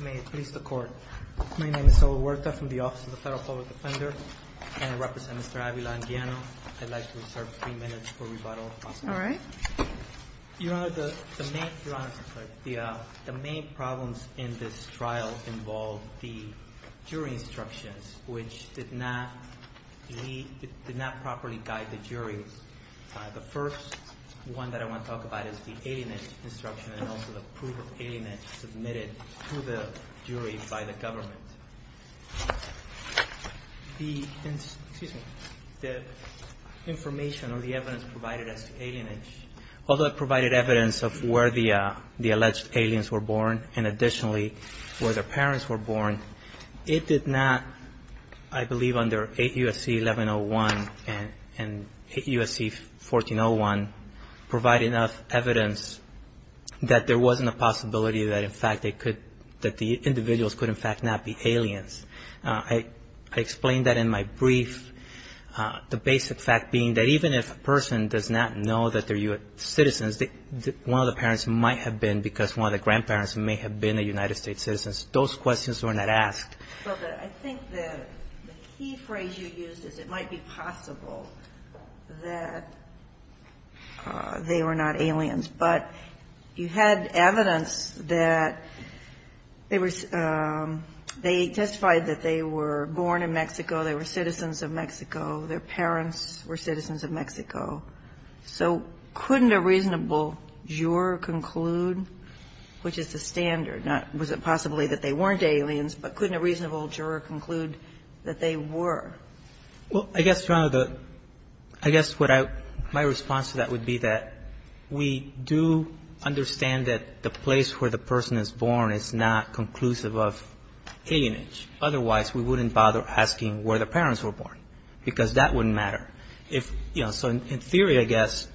May it please the Court. My name is Saul Huerta from the Office of the Federal Public Defender, and I represent Mr. Avila-Anguiano. I'd like to reserve three minutes for rebuttal, if possible. Your Honor, the main problems in this trial involved the jury instructions, which did not properly guide the jury. The first one that I want to talk about is the alienage instruction, and also the proof of alienage submitted to the jury by the government. The information or the evidence provided as to alienage, although it provided evidence of where the alleged aliens were born, and additionally, where their parents were born, it did not, I believe under 8 U.S.C. 1101 and 8 U.S.C. 1401, provide enough evidence that there wasn't a possibility that the individuals could in fact not be aliens. I explained that in my brief, the basic fact being that even if a person does not know that they're U.S. citizens, because one of the parents might have been, because one of the grandparents may have been a United States citizen, those questions were not asked. But I think the key phrase you used is it might be possible that they were not aliens. But you had evidence that they were they testified that they were born in Mexico, they were citizens of Mexico, their parents were citizens of Mexico. So couldn't a reasonable juror conclude, which is the standard, not was it possibly that they weren't aliens, but couldn't a reasonable juror conclude that they were? Well, I guess, Your Honor, I guess what my response to that would be that we do understand that the place where the person is born is not conclusive of alienage. Otherwise, we wouldn't bother asking where the parents were born, because that wouldn't matter. If, you know, so in theory, I guess,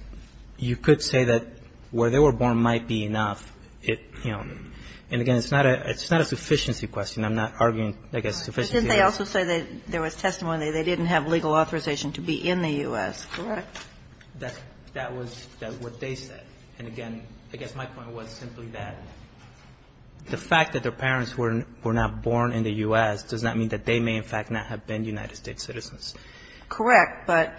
you could say that where they were born might be enough. And, again, it's not a sufficiency question. I'm not arguing, I guess, sufficiency. But didn't they also say that there was testimony that they didn't have legal authorization to be in the U.S.? Correct. That was what they said. And, again, I guess my point was simply that the fact that their parents were not born in the U.S. does not mean that they may in fact not have been United States citizens. Correct. But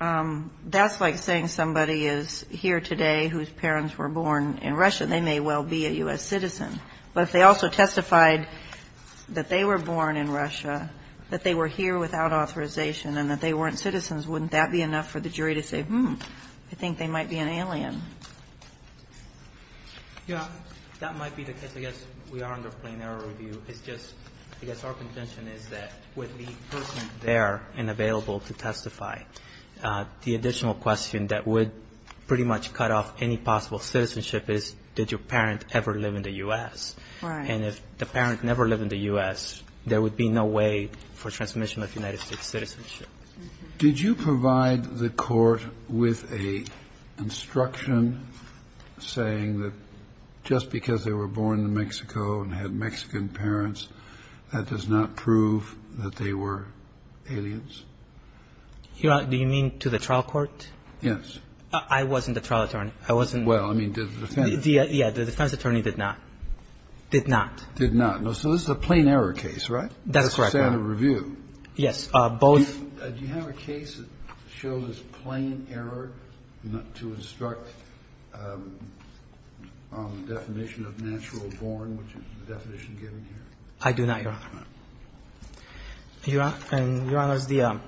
that's like saying somebody is here today whose parents were born in Russia. They may well be a U.S. citizen. But if they also testified that they were born in Russia, that they were here without authorization and that they weren't citizens, wouldn't that be enough for the jury to say, hmm, I think they might be an alien? Your Honor, that might be the case. I guess we are under plain error review. I guess our contention is that with the person there and available to testify, the additional question that would pretty much cut off any possible citizenship is did your parent ever live in the U.S.? Right. And if the parent never lived in the U.S., there would be no way for transmission of United States citizenship. Did you provide the Court with an instruction saying that just because they were born in Mexico and had Mexican parents, that does not prove that they were aliens? Your Honor, do you mean to the trial court? Yes. I wasn't the trial attorney. I wasn't. Well, I mean, did the defense attorney? Yeah. The defense attorney did not. Did not. Did not. So this is a plain error case, right? That is correct, Your Honor. This is standard review. Yes. Both. Do you have a case that shows as plain error to instruct on the definition of natural born, which is the definition given here? I do not, Your Honor. Your Honor,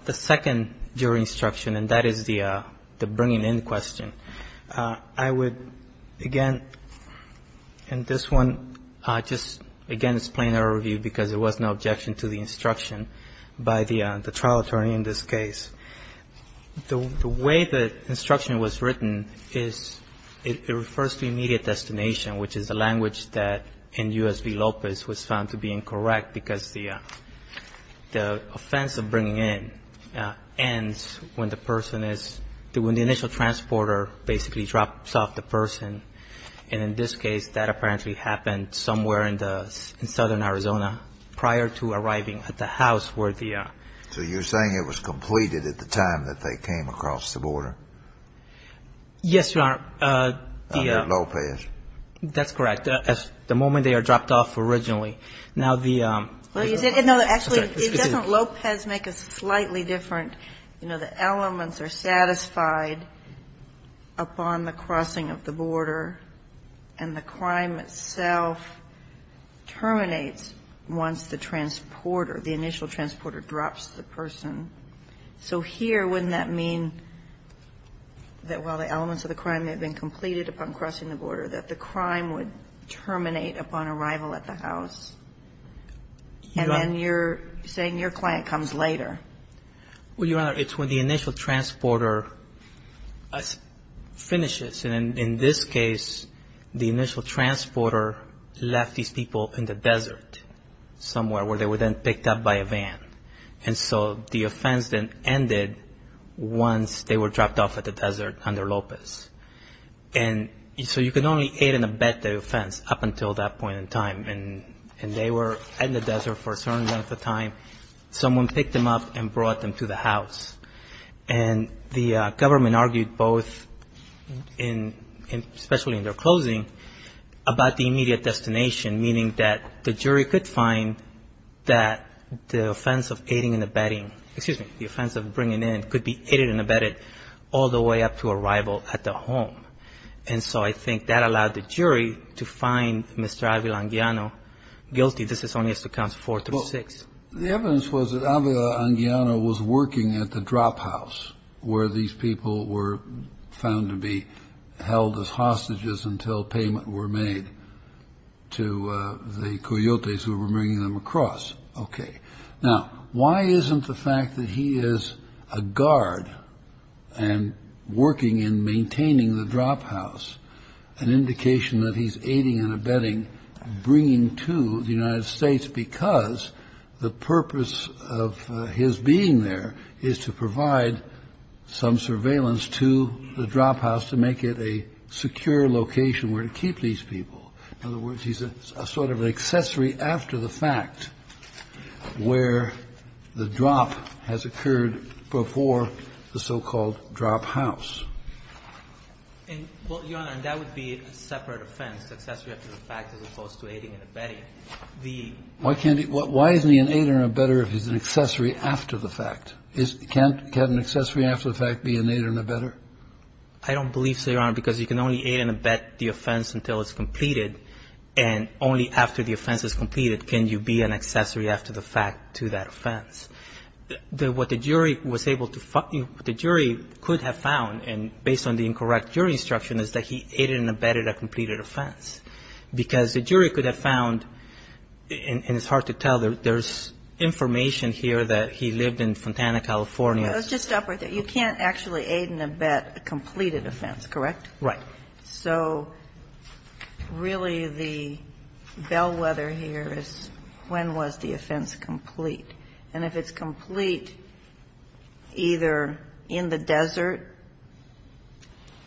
the second jury instruction, and that is the bringing in question, I would, again, in this one, just, again, it's plain error review because there of natural born, which is the definition given here. I mean, in this case, the way the instruction was written is it refers to immediate destination, which is a language that in U.S. v. Lopez was found to be incorrect because the offense of bringing in ends when the person is, when the initial transporter basically drops off the person. And in this case, that apparently happened somewhere in southern Arizona prior to arriving at the house where the ---- So you're saying it was completed at the time that they came across the border? Yes, Your Honor. Under Lopez. That's correct. The moment they are dropped off originally. Now, the ---- Well, you said no. Actually, doesn't Lopez make a slightly different, you know, the elements are satisfied upon the crossing of the border and the crime itself terminates once the transporter, the initial transporter drops the person. So here, wouldn't that mean that while the elements of the crime have been completed upon crossing the border, that the crime would terminate upon arrival at the house? And then you're saying your client comes later. Well, Your Honor, it's when the initial transporter finishes. And in this case, the initial transporter left these people in the desert somewhere where they were then picked up by a van. And so the offense then ended once they were dropped off at the desert under Lopez. And so you can only aid and abet the offense up until that point in time. And they were in the desert for a certain length of time. Someone picked them up and brought them to the house. And the government argued both, especially in their closing, about the immediate destination, meaning that the jury could find that the offense of aiding and abetting, excuse me, And so I think that allowed the jury to find Mr. Avila-Anguiano guilty. This is only as to counts four through six. The evidence was that Avila-Anguiano was working at the drop house where these people were found to be held as hostages until payment were made to the coyotes who were bringing them across. OK. Now, why isn't the fact that he is a guard and working in maintaining the drop house an indication that he's aiding and abetting bringing to the United States because the purpose of his being there is to provide some surveillance to the drop house to make it a secure location where to keep these people. In other words, he's a sort of an accessory after the fact where the drop has occurred before the so-called drop house. Well, Your Honor, and that would be a separate offense, accessory after the fact as opposed to aiding and abetting. Why can't he? Why isn't he an aide and abetter if he's an accessory after the fact? Can't an accessory after the fact be an aide and abetter? I don't believe so, Your Honor, because you can only aid and abet the offense until it's completed and only after the offense is completed can you be an accessory after the fact to that offense. What the jury was able to find, the jury could have found, and based on the incorrect jury instruction is that he aided and abetted a completed offense because the jury could have found, and it's hard to tell, there's information here that he lived in Fontana, California. Let's just stop right there. You can't actually aid and abet a completed offense, correct? Right. So really the bellwether here is when was the offense complete? And if it's complete either in the desert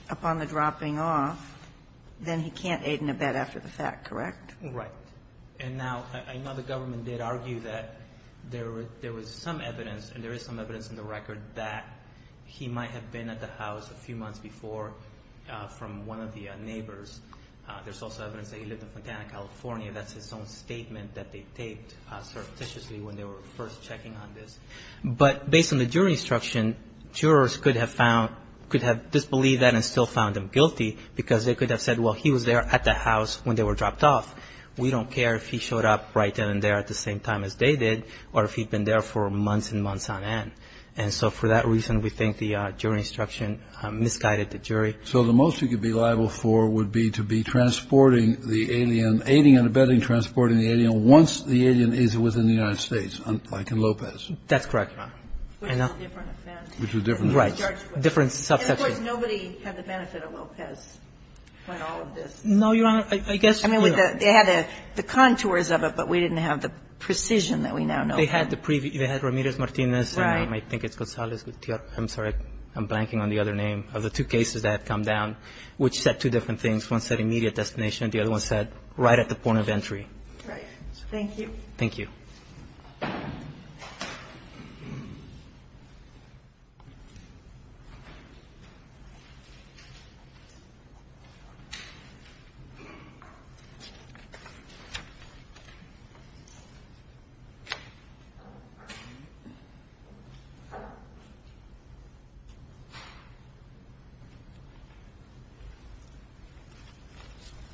upon the dropping off, then he can't aid and abet after the fact, correct? Right. And now the government did argue that there was some evidence, and there is some evidence in the record, that he might have been at the house a few months before from one of the neighbors. There's also evidence that he lived in Fontana, California. That's his own statement that they taped surreptitiously when they were first checking on this. But based on the jury instruction, jurors could have found, could have disbelieved that and still found him guilty because they could have said, well, he was there at the house when they were dropped off. We don't care if he showed up right then and there at the same time as they did or if he'd been there for months and months on end. And so for that reason, we think the jury instruction misguided the jury. So the most you could be liable for would be to be transporting the alien, aiding and abetting transporting the alien once the alien is within the United States, like in Lopez. That's correct. Which is a different offense. Which is a different offense. Right. A different subsection. And, of course, nobody had the benefit of Lopez on all of this. No, Your Honor. I guess you would. They had the contours of it, but we didn't have the precision that we now know. They had the previous. They had Ramirez-Martinez. Right. And I think it's Gonzalez-Gutierrez. I'm sorry. I'm blanking on the other name of the two cases that have come down, which said two different things. One said immediate destination. The other one said right at the point of entry. Right. Thank you. Good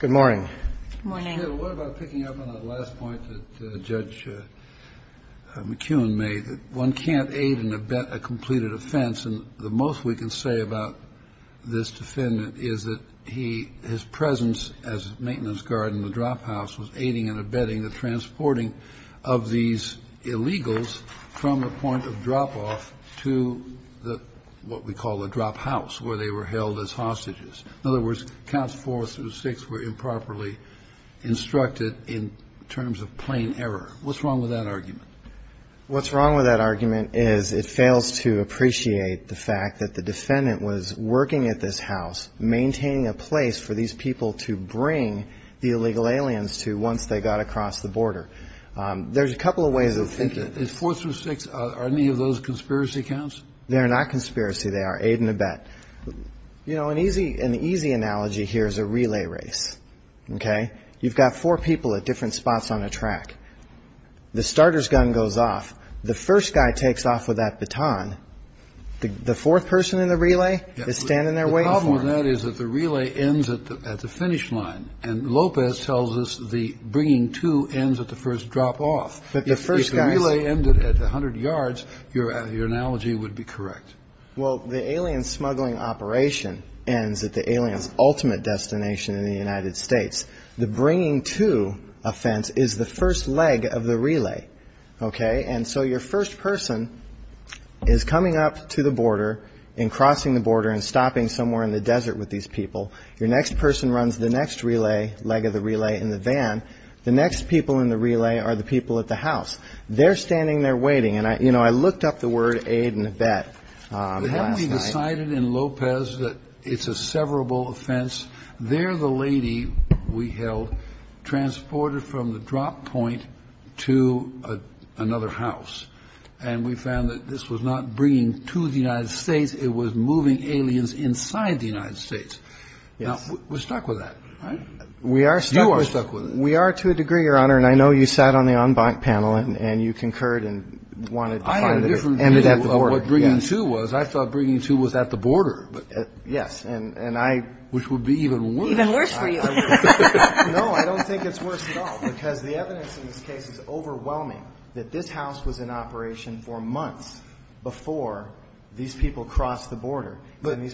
morning. Good morning. Your Honor, what about picking up on that last point that Judge McKeown made, that one can't aid and abet a completed offense. And the most we can say about this defendant is that he, his presence as a maintenance guard in the drop house was aiding and abetting the transporting of these illegals from the point of drop-off to the, what we call the drop house, where they were held as hostages. In other words, counts four through six were improperly instructed in terms of plain error. What's wrong with that argument? What's wrong with that argument is it fails to appreciate the fact that the defendant was working at this house, maintaining a place for these people to bring the illegal aliens to once they got across the border. There's a couple of ways of thinking. Is four through six, are any of those conspiracy counts? They are not conspiracy. They are aid and abet. You know, an easy analogy here is a relay race. Okay? You've got four people at different spots on a track. The starter's gun goes off. The first guy takes off with that baton. The fourth person in the relay is standing there waiting for him. The problem with that is that the relay ends at the finish line. And Lopez tells us the bringing two ends at the first drop-off. But the first guy's... If the relay ended at 100 yards, your analogy would be correct. Well, the alien smuggling operation ends at the alien's ultimate destination in the United States. The bringing two offense is the first leg of the relay. Okay? And so your first person is coming up to the border and crossing the border and stopping somewhere in the desert with these people. Your next person runs the next relay, leg of the relay, in the van. The next people in the relay are the people at the house. They're standing there waiting. And, you know, I looked up the word aid and vet last night. But haven't we decided in Lopez that it's a severable offense? There the lady we held transported from the drop point to another house. And we found that this was not bringing to the United States. It was moving aliens inside the United States. Yes. Now, we're stuck with that, right? We are stuck with it. You are stuck with it. We are to a degree, Your Honor. And I know you sat on the en banc panel and you concurred and wanted to find that it ended at the border. I had a different view of what bringing two was. I thought bringing two was at the border. Yes. And I. Which would be even worse. Even worse for you. No. I don't think it's worse at all, because the evidence in this case is overwhelming that this house was in operation for months before these people crossed the border. Let me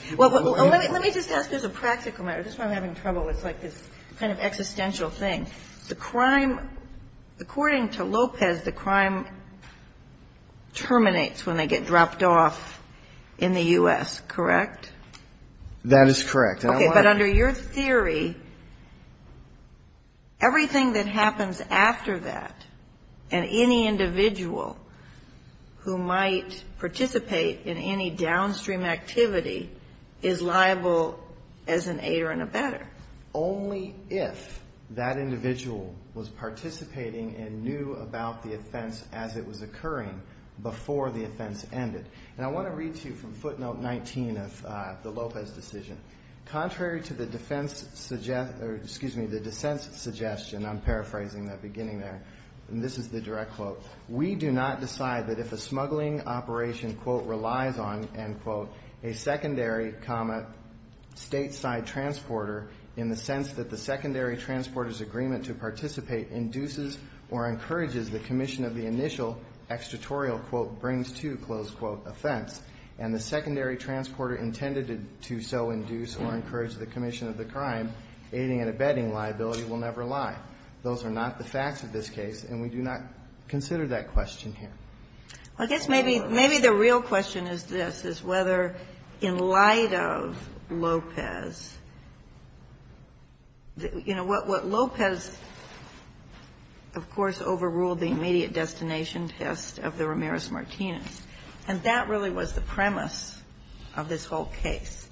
just ask this a practical matter. This is why I'm having trouble. It's like this kind of existential thing. The crime, according to Lopez, the crime terminates when they get dropped off in the U.S., correct? That is correct. Okay. But under your theory, everything that happens after that and any individual who might participate in any downstream activity is liable as an aider and abetter. Only if that individual was participating and knew about the offense as it was occurring before the offense ended. And I want to read to you from footnote 19 of the Lopez decision. Contrary to the defense, excuse me, the dissent suggestion, I'm paraphrasing that beginning there, and this is the direct quote, we do not decide that if a smuggling operation, quote, relies on, end quote, a secondary, comma, stateside transporter in the sense that the secondary transporter's agreement to participate induces or encourages the commission of the initial extratorial, quote, brings to, close quote, offense, and the secondary transporter intended to so induce or encourage the commission of the crime, aiding and abetting liability will never lie. Those are not the facts of this case, and we do not consider that question here. I guess maybe the real question is this, is whether in light of Lopez, you know, what Lopez, of course, overruled the immediate destination test of the Ramirez-Martinez, and that really was the premise of this whole case.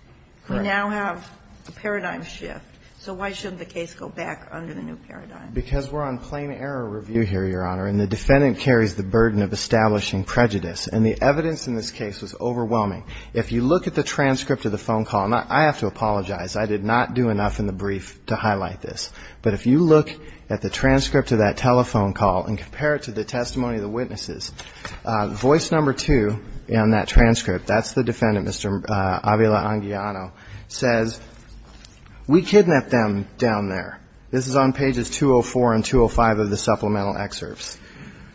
Correct. We now have a paradigm shift. So why shouldn't the case go back under the new paradigm? Because we're on plain error review here, Your Honor, and the defendant carries the burden of establishing prejudice, and the evidence in this case was overwhelming. If you look at the transcript of the phone call, and I have to apologize. I did not do enough in the brief to highlight this. But if you look at the transcript of that telephone call and compare it to the testimony of the witnesses, voice number two in that transcript, that's the defendant, Mr. Avila-Anguiano, says, we kidnapped them down there. This is on pages 204 and 205 of the supplemental excerpts.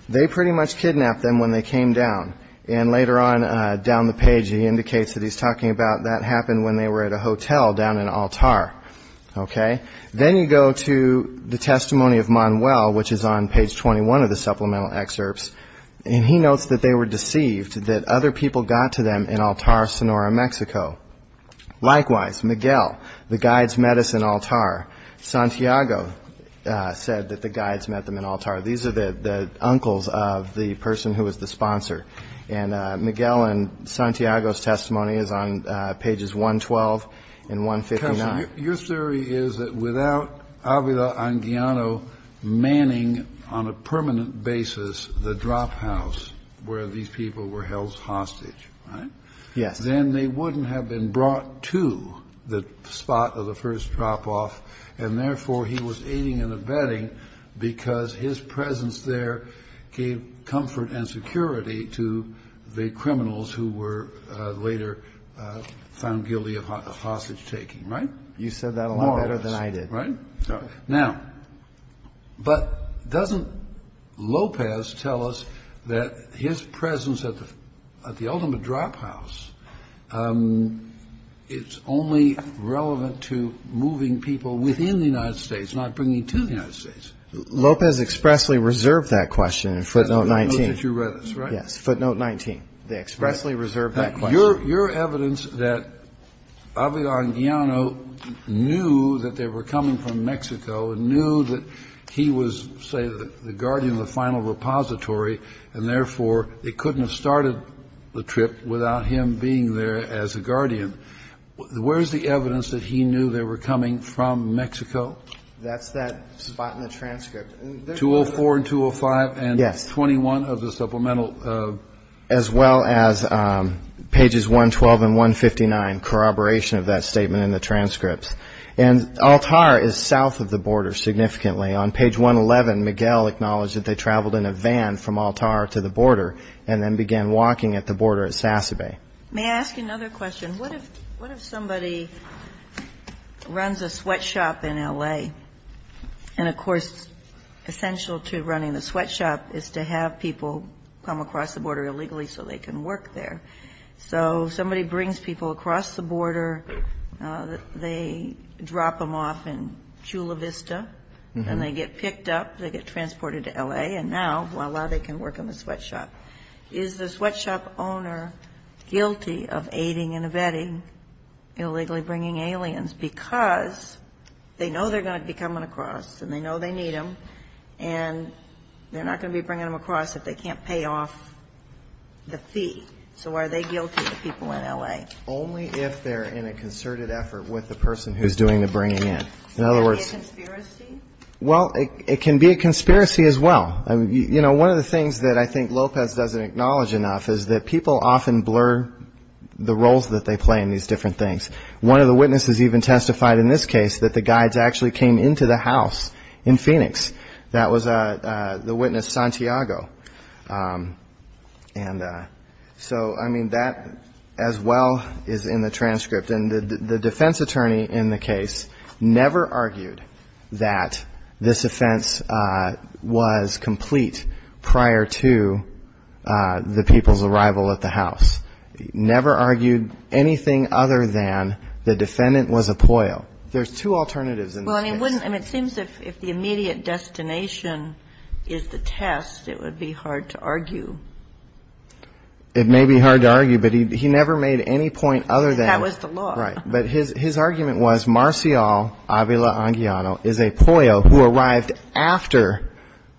They pretty much kidnapped them when they came down. And later on down the page he indicates that he's talking about that happened when they were at a hotel down in Altar. Okay. Then you go to the testimony of Manuel, which is on page 21 of the supplemental excerpts, and he notes that they were deceived that other people got to them in Altar, Sonora, Mexico. Likewise, Miguel, the guides met us in Altar. Santiago said that the guides met them in Altar. These are the uncles of the person who was the sponsor. And Miguel and Santiago's testimony is on pages 112 and 159. Kennedy, your theory is that without Avila-Anguiano manning on a permanent basis the drop house where these people were held hostage, right? Yes. Then they wouldn't have been brought to the spot of the first drop off, and therefore he was aiding and abetting because his presence there gave comfort and security to the criminals who were later found guilty of hostage taking, right? You said that a lot better than I did. Right? Now, but doesn't Lopez tell us that his presence at the ultimate drop house, it's only relevant to moving people within the United States, not bringing to the United States? Lopez expressly reserved that question in footnote 19. That's what you read, right? Yes, footnote 19. They expressly reserved that question. Your evidence that Avila-Anguiano knew that they were coming from Mexico and knew that he was, say, the guardian of the final repository, and therefore they couldn't have started the trip without him being there as a guardian, where's the evidence that he knew they were coming from Mexico? That's that spot in the transcript. 204 and 205 and 21 of the supplemental. As well as pages 112 and 159, corroboration of that statement in the transcripts. And Altar is south of the border significantly. On page 111, Miguel acknowledged that they traveled in a van from Altar to the border and then began walking at the border at Sassabay. May I ask you another question? What if somebody runs a sweatshop in L.A.? And, of course, essential to running the sweatshop is to have people come across the border illegally so they can work there. So somebody brings people across the border. They drop them off in Chula Vista, and they get picked up, they get transported to L.A., and now, voila, they can work in the sweatshop. Is the sweatshop owner guilty of aiding and abetting illegally bringing aliens because they know they're going to be coming across and they know they need them and they're not going to be bringing them across if they can't pay off the fee? So are they guilty, the people in L.A.? Only if they're in a concerted effort with the person who's doing the bringing in. In other words. Is that a conspiracy? Well, it can be a conspiracy as well. You know, one of the things that I think Lopez doesn't acknowledge enough is that people often blur the roles that they play in these different things. One of the witnesses even testified in this case that the guides actually came into the house in Phoenix. That was the witness Santiago. And so, I mean, that as well is in the transcript. And the defense attorney in the case never argued that this offense was complete prior to the people's arrival at the house. Never argued anything other than the defendant was a POIO. There's two alternatives in this case. Well, I mean, it seems if the immediate destination is the test, it would be hard to argue. It may be hard to argue, but he never made any point other than. That was the law. Right. But his argument was Marcial Avila-Anguillano is a POIO who arrived after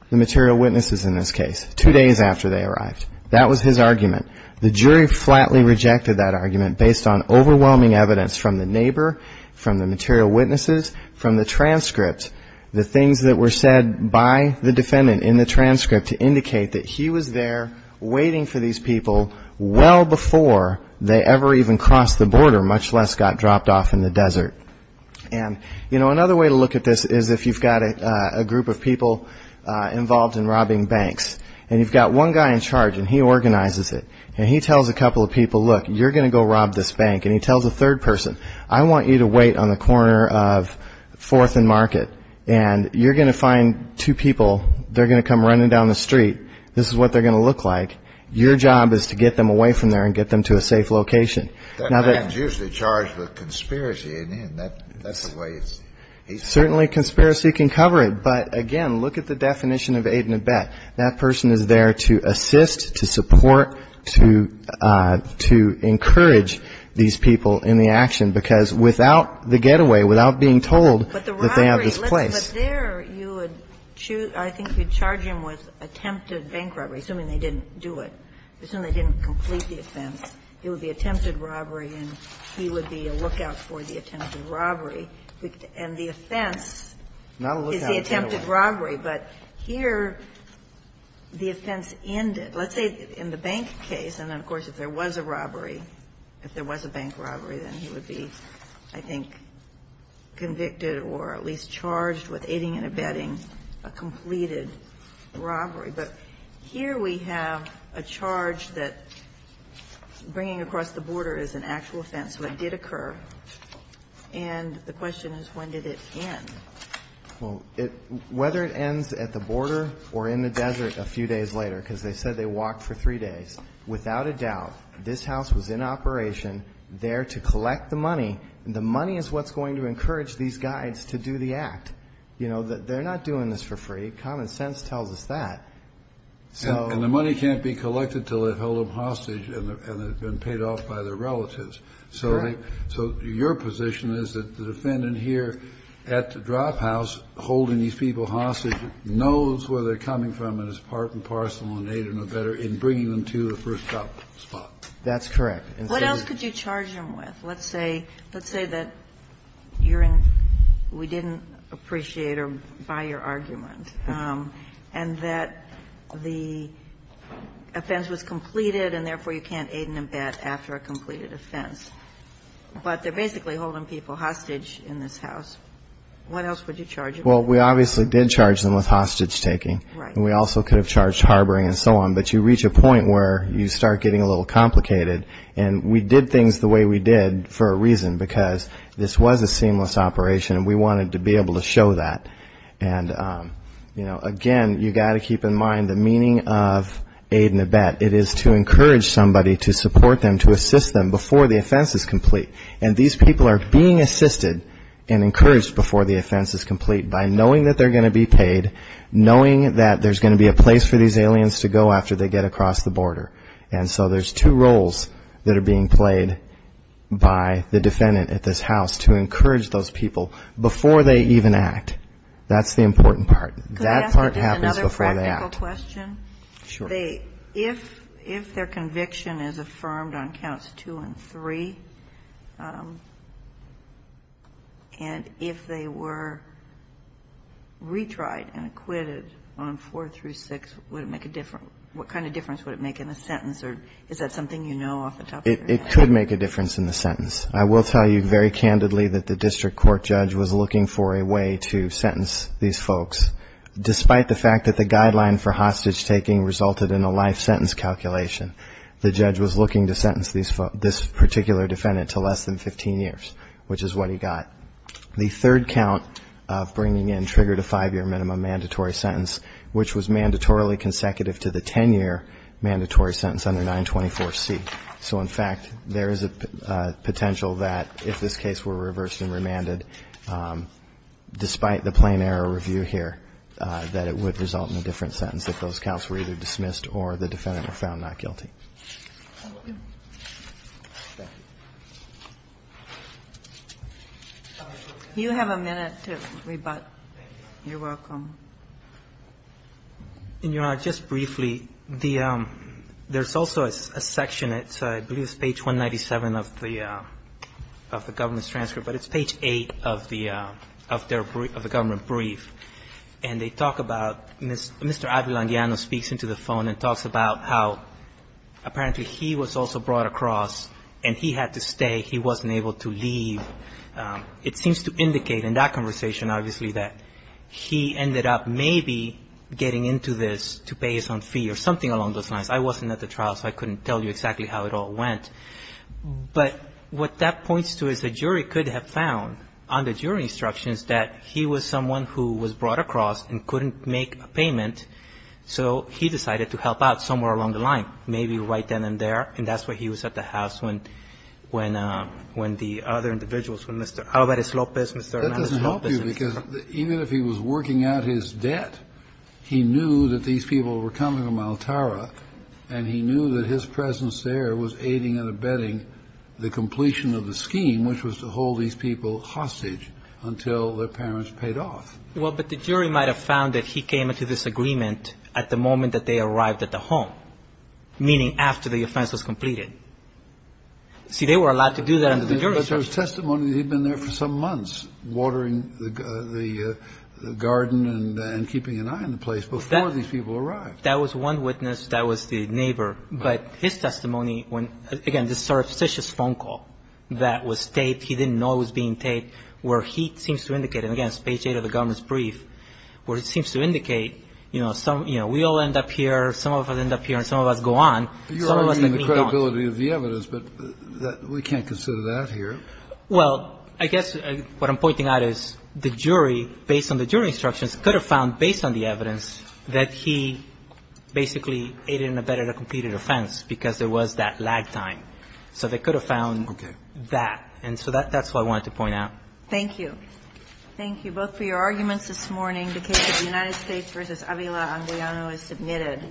the material witnesses in this case, two days after they arrived. That was his argument. The jury flatly rejected that argument based on overwhelming evidence from the neighbor, from the material witnesses, from the transcript, the things that were said by the defendant in the transcript to indicate that he was there waiting for these people well before they ever even crossed the border, much less got dropped off in the desert. And, you know, another way to look at this is if you've got a group of people involved in robbing banks and you've got one guy in charge and he organizes it and he tells a couple of people, look, you're going to go rob this bank, and he tells a third person, I want you to wait on the corner of Fourth and Market and you're going to find two people. They're going to come running down the street. This is what they're going to look like. Your job is to get them away from there and get them to a safe location. That man's usually charged with conspiracy, isn't he? And that's the way he's. Certainly conspiracy can cover it. But, again, look at the definition of aid and abet. That person is there to assist, to support, to encourage these people in the action, because without the getaway, without being told that they have this place. But the robbery, but there you would choose, I think you'd charge him with attempted bank robbery, assuming they didn't do it, assuming they didn't complete the offense. It would be attempted robbery and he would be a lookout for the attempted robbery. And the offense is the attempted robbery. But here the offense ended. Let's say in the bank case, and then of course if there was a robbery, if there was a bank robbery, then he would be, I think, convicted or at least charged with aiding and abetting a completed robbery. But here we have a charge that bringing across the border is an actual offense. So it did occur. And the question is when did it end? Well, whether it ends at the border or in the desert a few days later, because they said they walked for three days, without a doubt this house was in operation there to collect the money. And the money is what's going to encourage these guys to do the act. You know, they're not doing this for free. Common sense tells us that. And the money can't be collected until they've held them hostage and they've been paid off by their relatives. So your position is that the defendant here at the drop house holding these people hostage knows where they're coming from and is part and parcel and aiding or abetting and bringing them to the first stop spot. That's correct. What else could you charge them with? Let's say that you're in we didn't appreciate or buy your argument, and that the offense was completed and therefore you can't aid and abet after a completed offense. But they're basically holding people hostage in this house. What else would you charge them with? Well, we obviously did charge them with hostage taking. And we also could have charged harboring and so on. But you reach a point where you start getting a little complicated. And we did things the way we did for a reason, because this was a seamless operation and we wanted to be able to show that. And again, you've got to keep in mind the meaning of aid and abet. It is to encourage somebody to support them, to assist them before the offense is complete. And these people are being assisted and encouraged before the offense is complete by knowing that they're going to be paid, knowing that there's going to be a place for these aliens to go after they get across the border. And so there's two roles that are being played by the defendant at this house to encourage those people before they even act. That's the important part. That part happens before they act. Could I ask another practical question? Sure. If their conviction is affirmed on counts two and three, and if they were retried and acquitted on four through six, what kind of difference would it make in the sentence? Or is that something you know off the top of your head? It could make a difference in the sentence. I will tell you very candidly that the district court judge was looking for a way to sentence these folks. Despite the fact that the guideline for hostage taking resulted in a life sentence calculation, the judge was looking to sentence this particular defendant to less than 15 years, which is what he got. The third count of bringing in triggered a five-year minimum mandatory sentence, which was mandatorily consecutive to the 10-year mandatory sentence under 924C. So, in fact, there is a potential that if this case were reversed and remanded, despite the plain error review here, that it would result in a different sentence if those counts were either dismissed or the defendant were found not guilty. Do you have a minute to rebut? Thank you. You're welcome. And, Your Honor, just briefly, there's also a section, I believe it's page 197 of the government's transcript, but it's page 8 of the government brief. And they talk about Mr. Avilandiano speaks into the phone and talks about how apparently he was also brought across and he had to stay. He wasn't able to leave. It seems to indicate in that conversation, obviously, that he ended up maybe getting into this to pay his own fee or something along those lines. I wasn't at the trial, so I couldn't tell you exactly how it all went. But what that points to is the jury could have found under jury instructions that he was someone who was brought across and couldn't make a payment, so he decided to help out somewhere along the line, maybe right then and there. And that's where he was at the house when the other individuals, when Mr. Alvarez-Lopez, Mr. Hernandez-Lopez. That doesn't help you because even if he was working out his debt, he knew that these people were coming to Maltara and he knew that his presence there was aiding and abetting the completion of the scheme, which was to hold these people hostage until their parents paid off. Well, but the jury might have found that he came into this agreement at the moment that they arrived at the home, meaning after the offense was completed. See, they were allowed to do that under jury instructions. But there was testimony that he'd been there for some months watering the garden and keeping an eye on the place before these people arrived. That was one witness. That was the neighbor. But his testimony, again, this surreptitious phone call that was taped, he didn't know it was being taped, where he seems to indicate, and again it's page eight of the governor's brief, where it seems to indicate, you know, some, you know, we all end up here, some of us end up here, and some of us go on. Some of us let me down. You're arguing the credibility of the evidence, but we can't consider that here. Well, I guess what I'm pointing out is the jury, based on the jury instructions, could have found based on the evidence that he basically aided and abetted a completed offense because there was that lag time. So they could have found that. Okay. And so that's what I wanted to point out. Thank you. Thank you both for your arguments. That concludes this morning. The case of the United States v. Avila-Anguelano is submitted.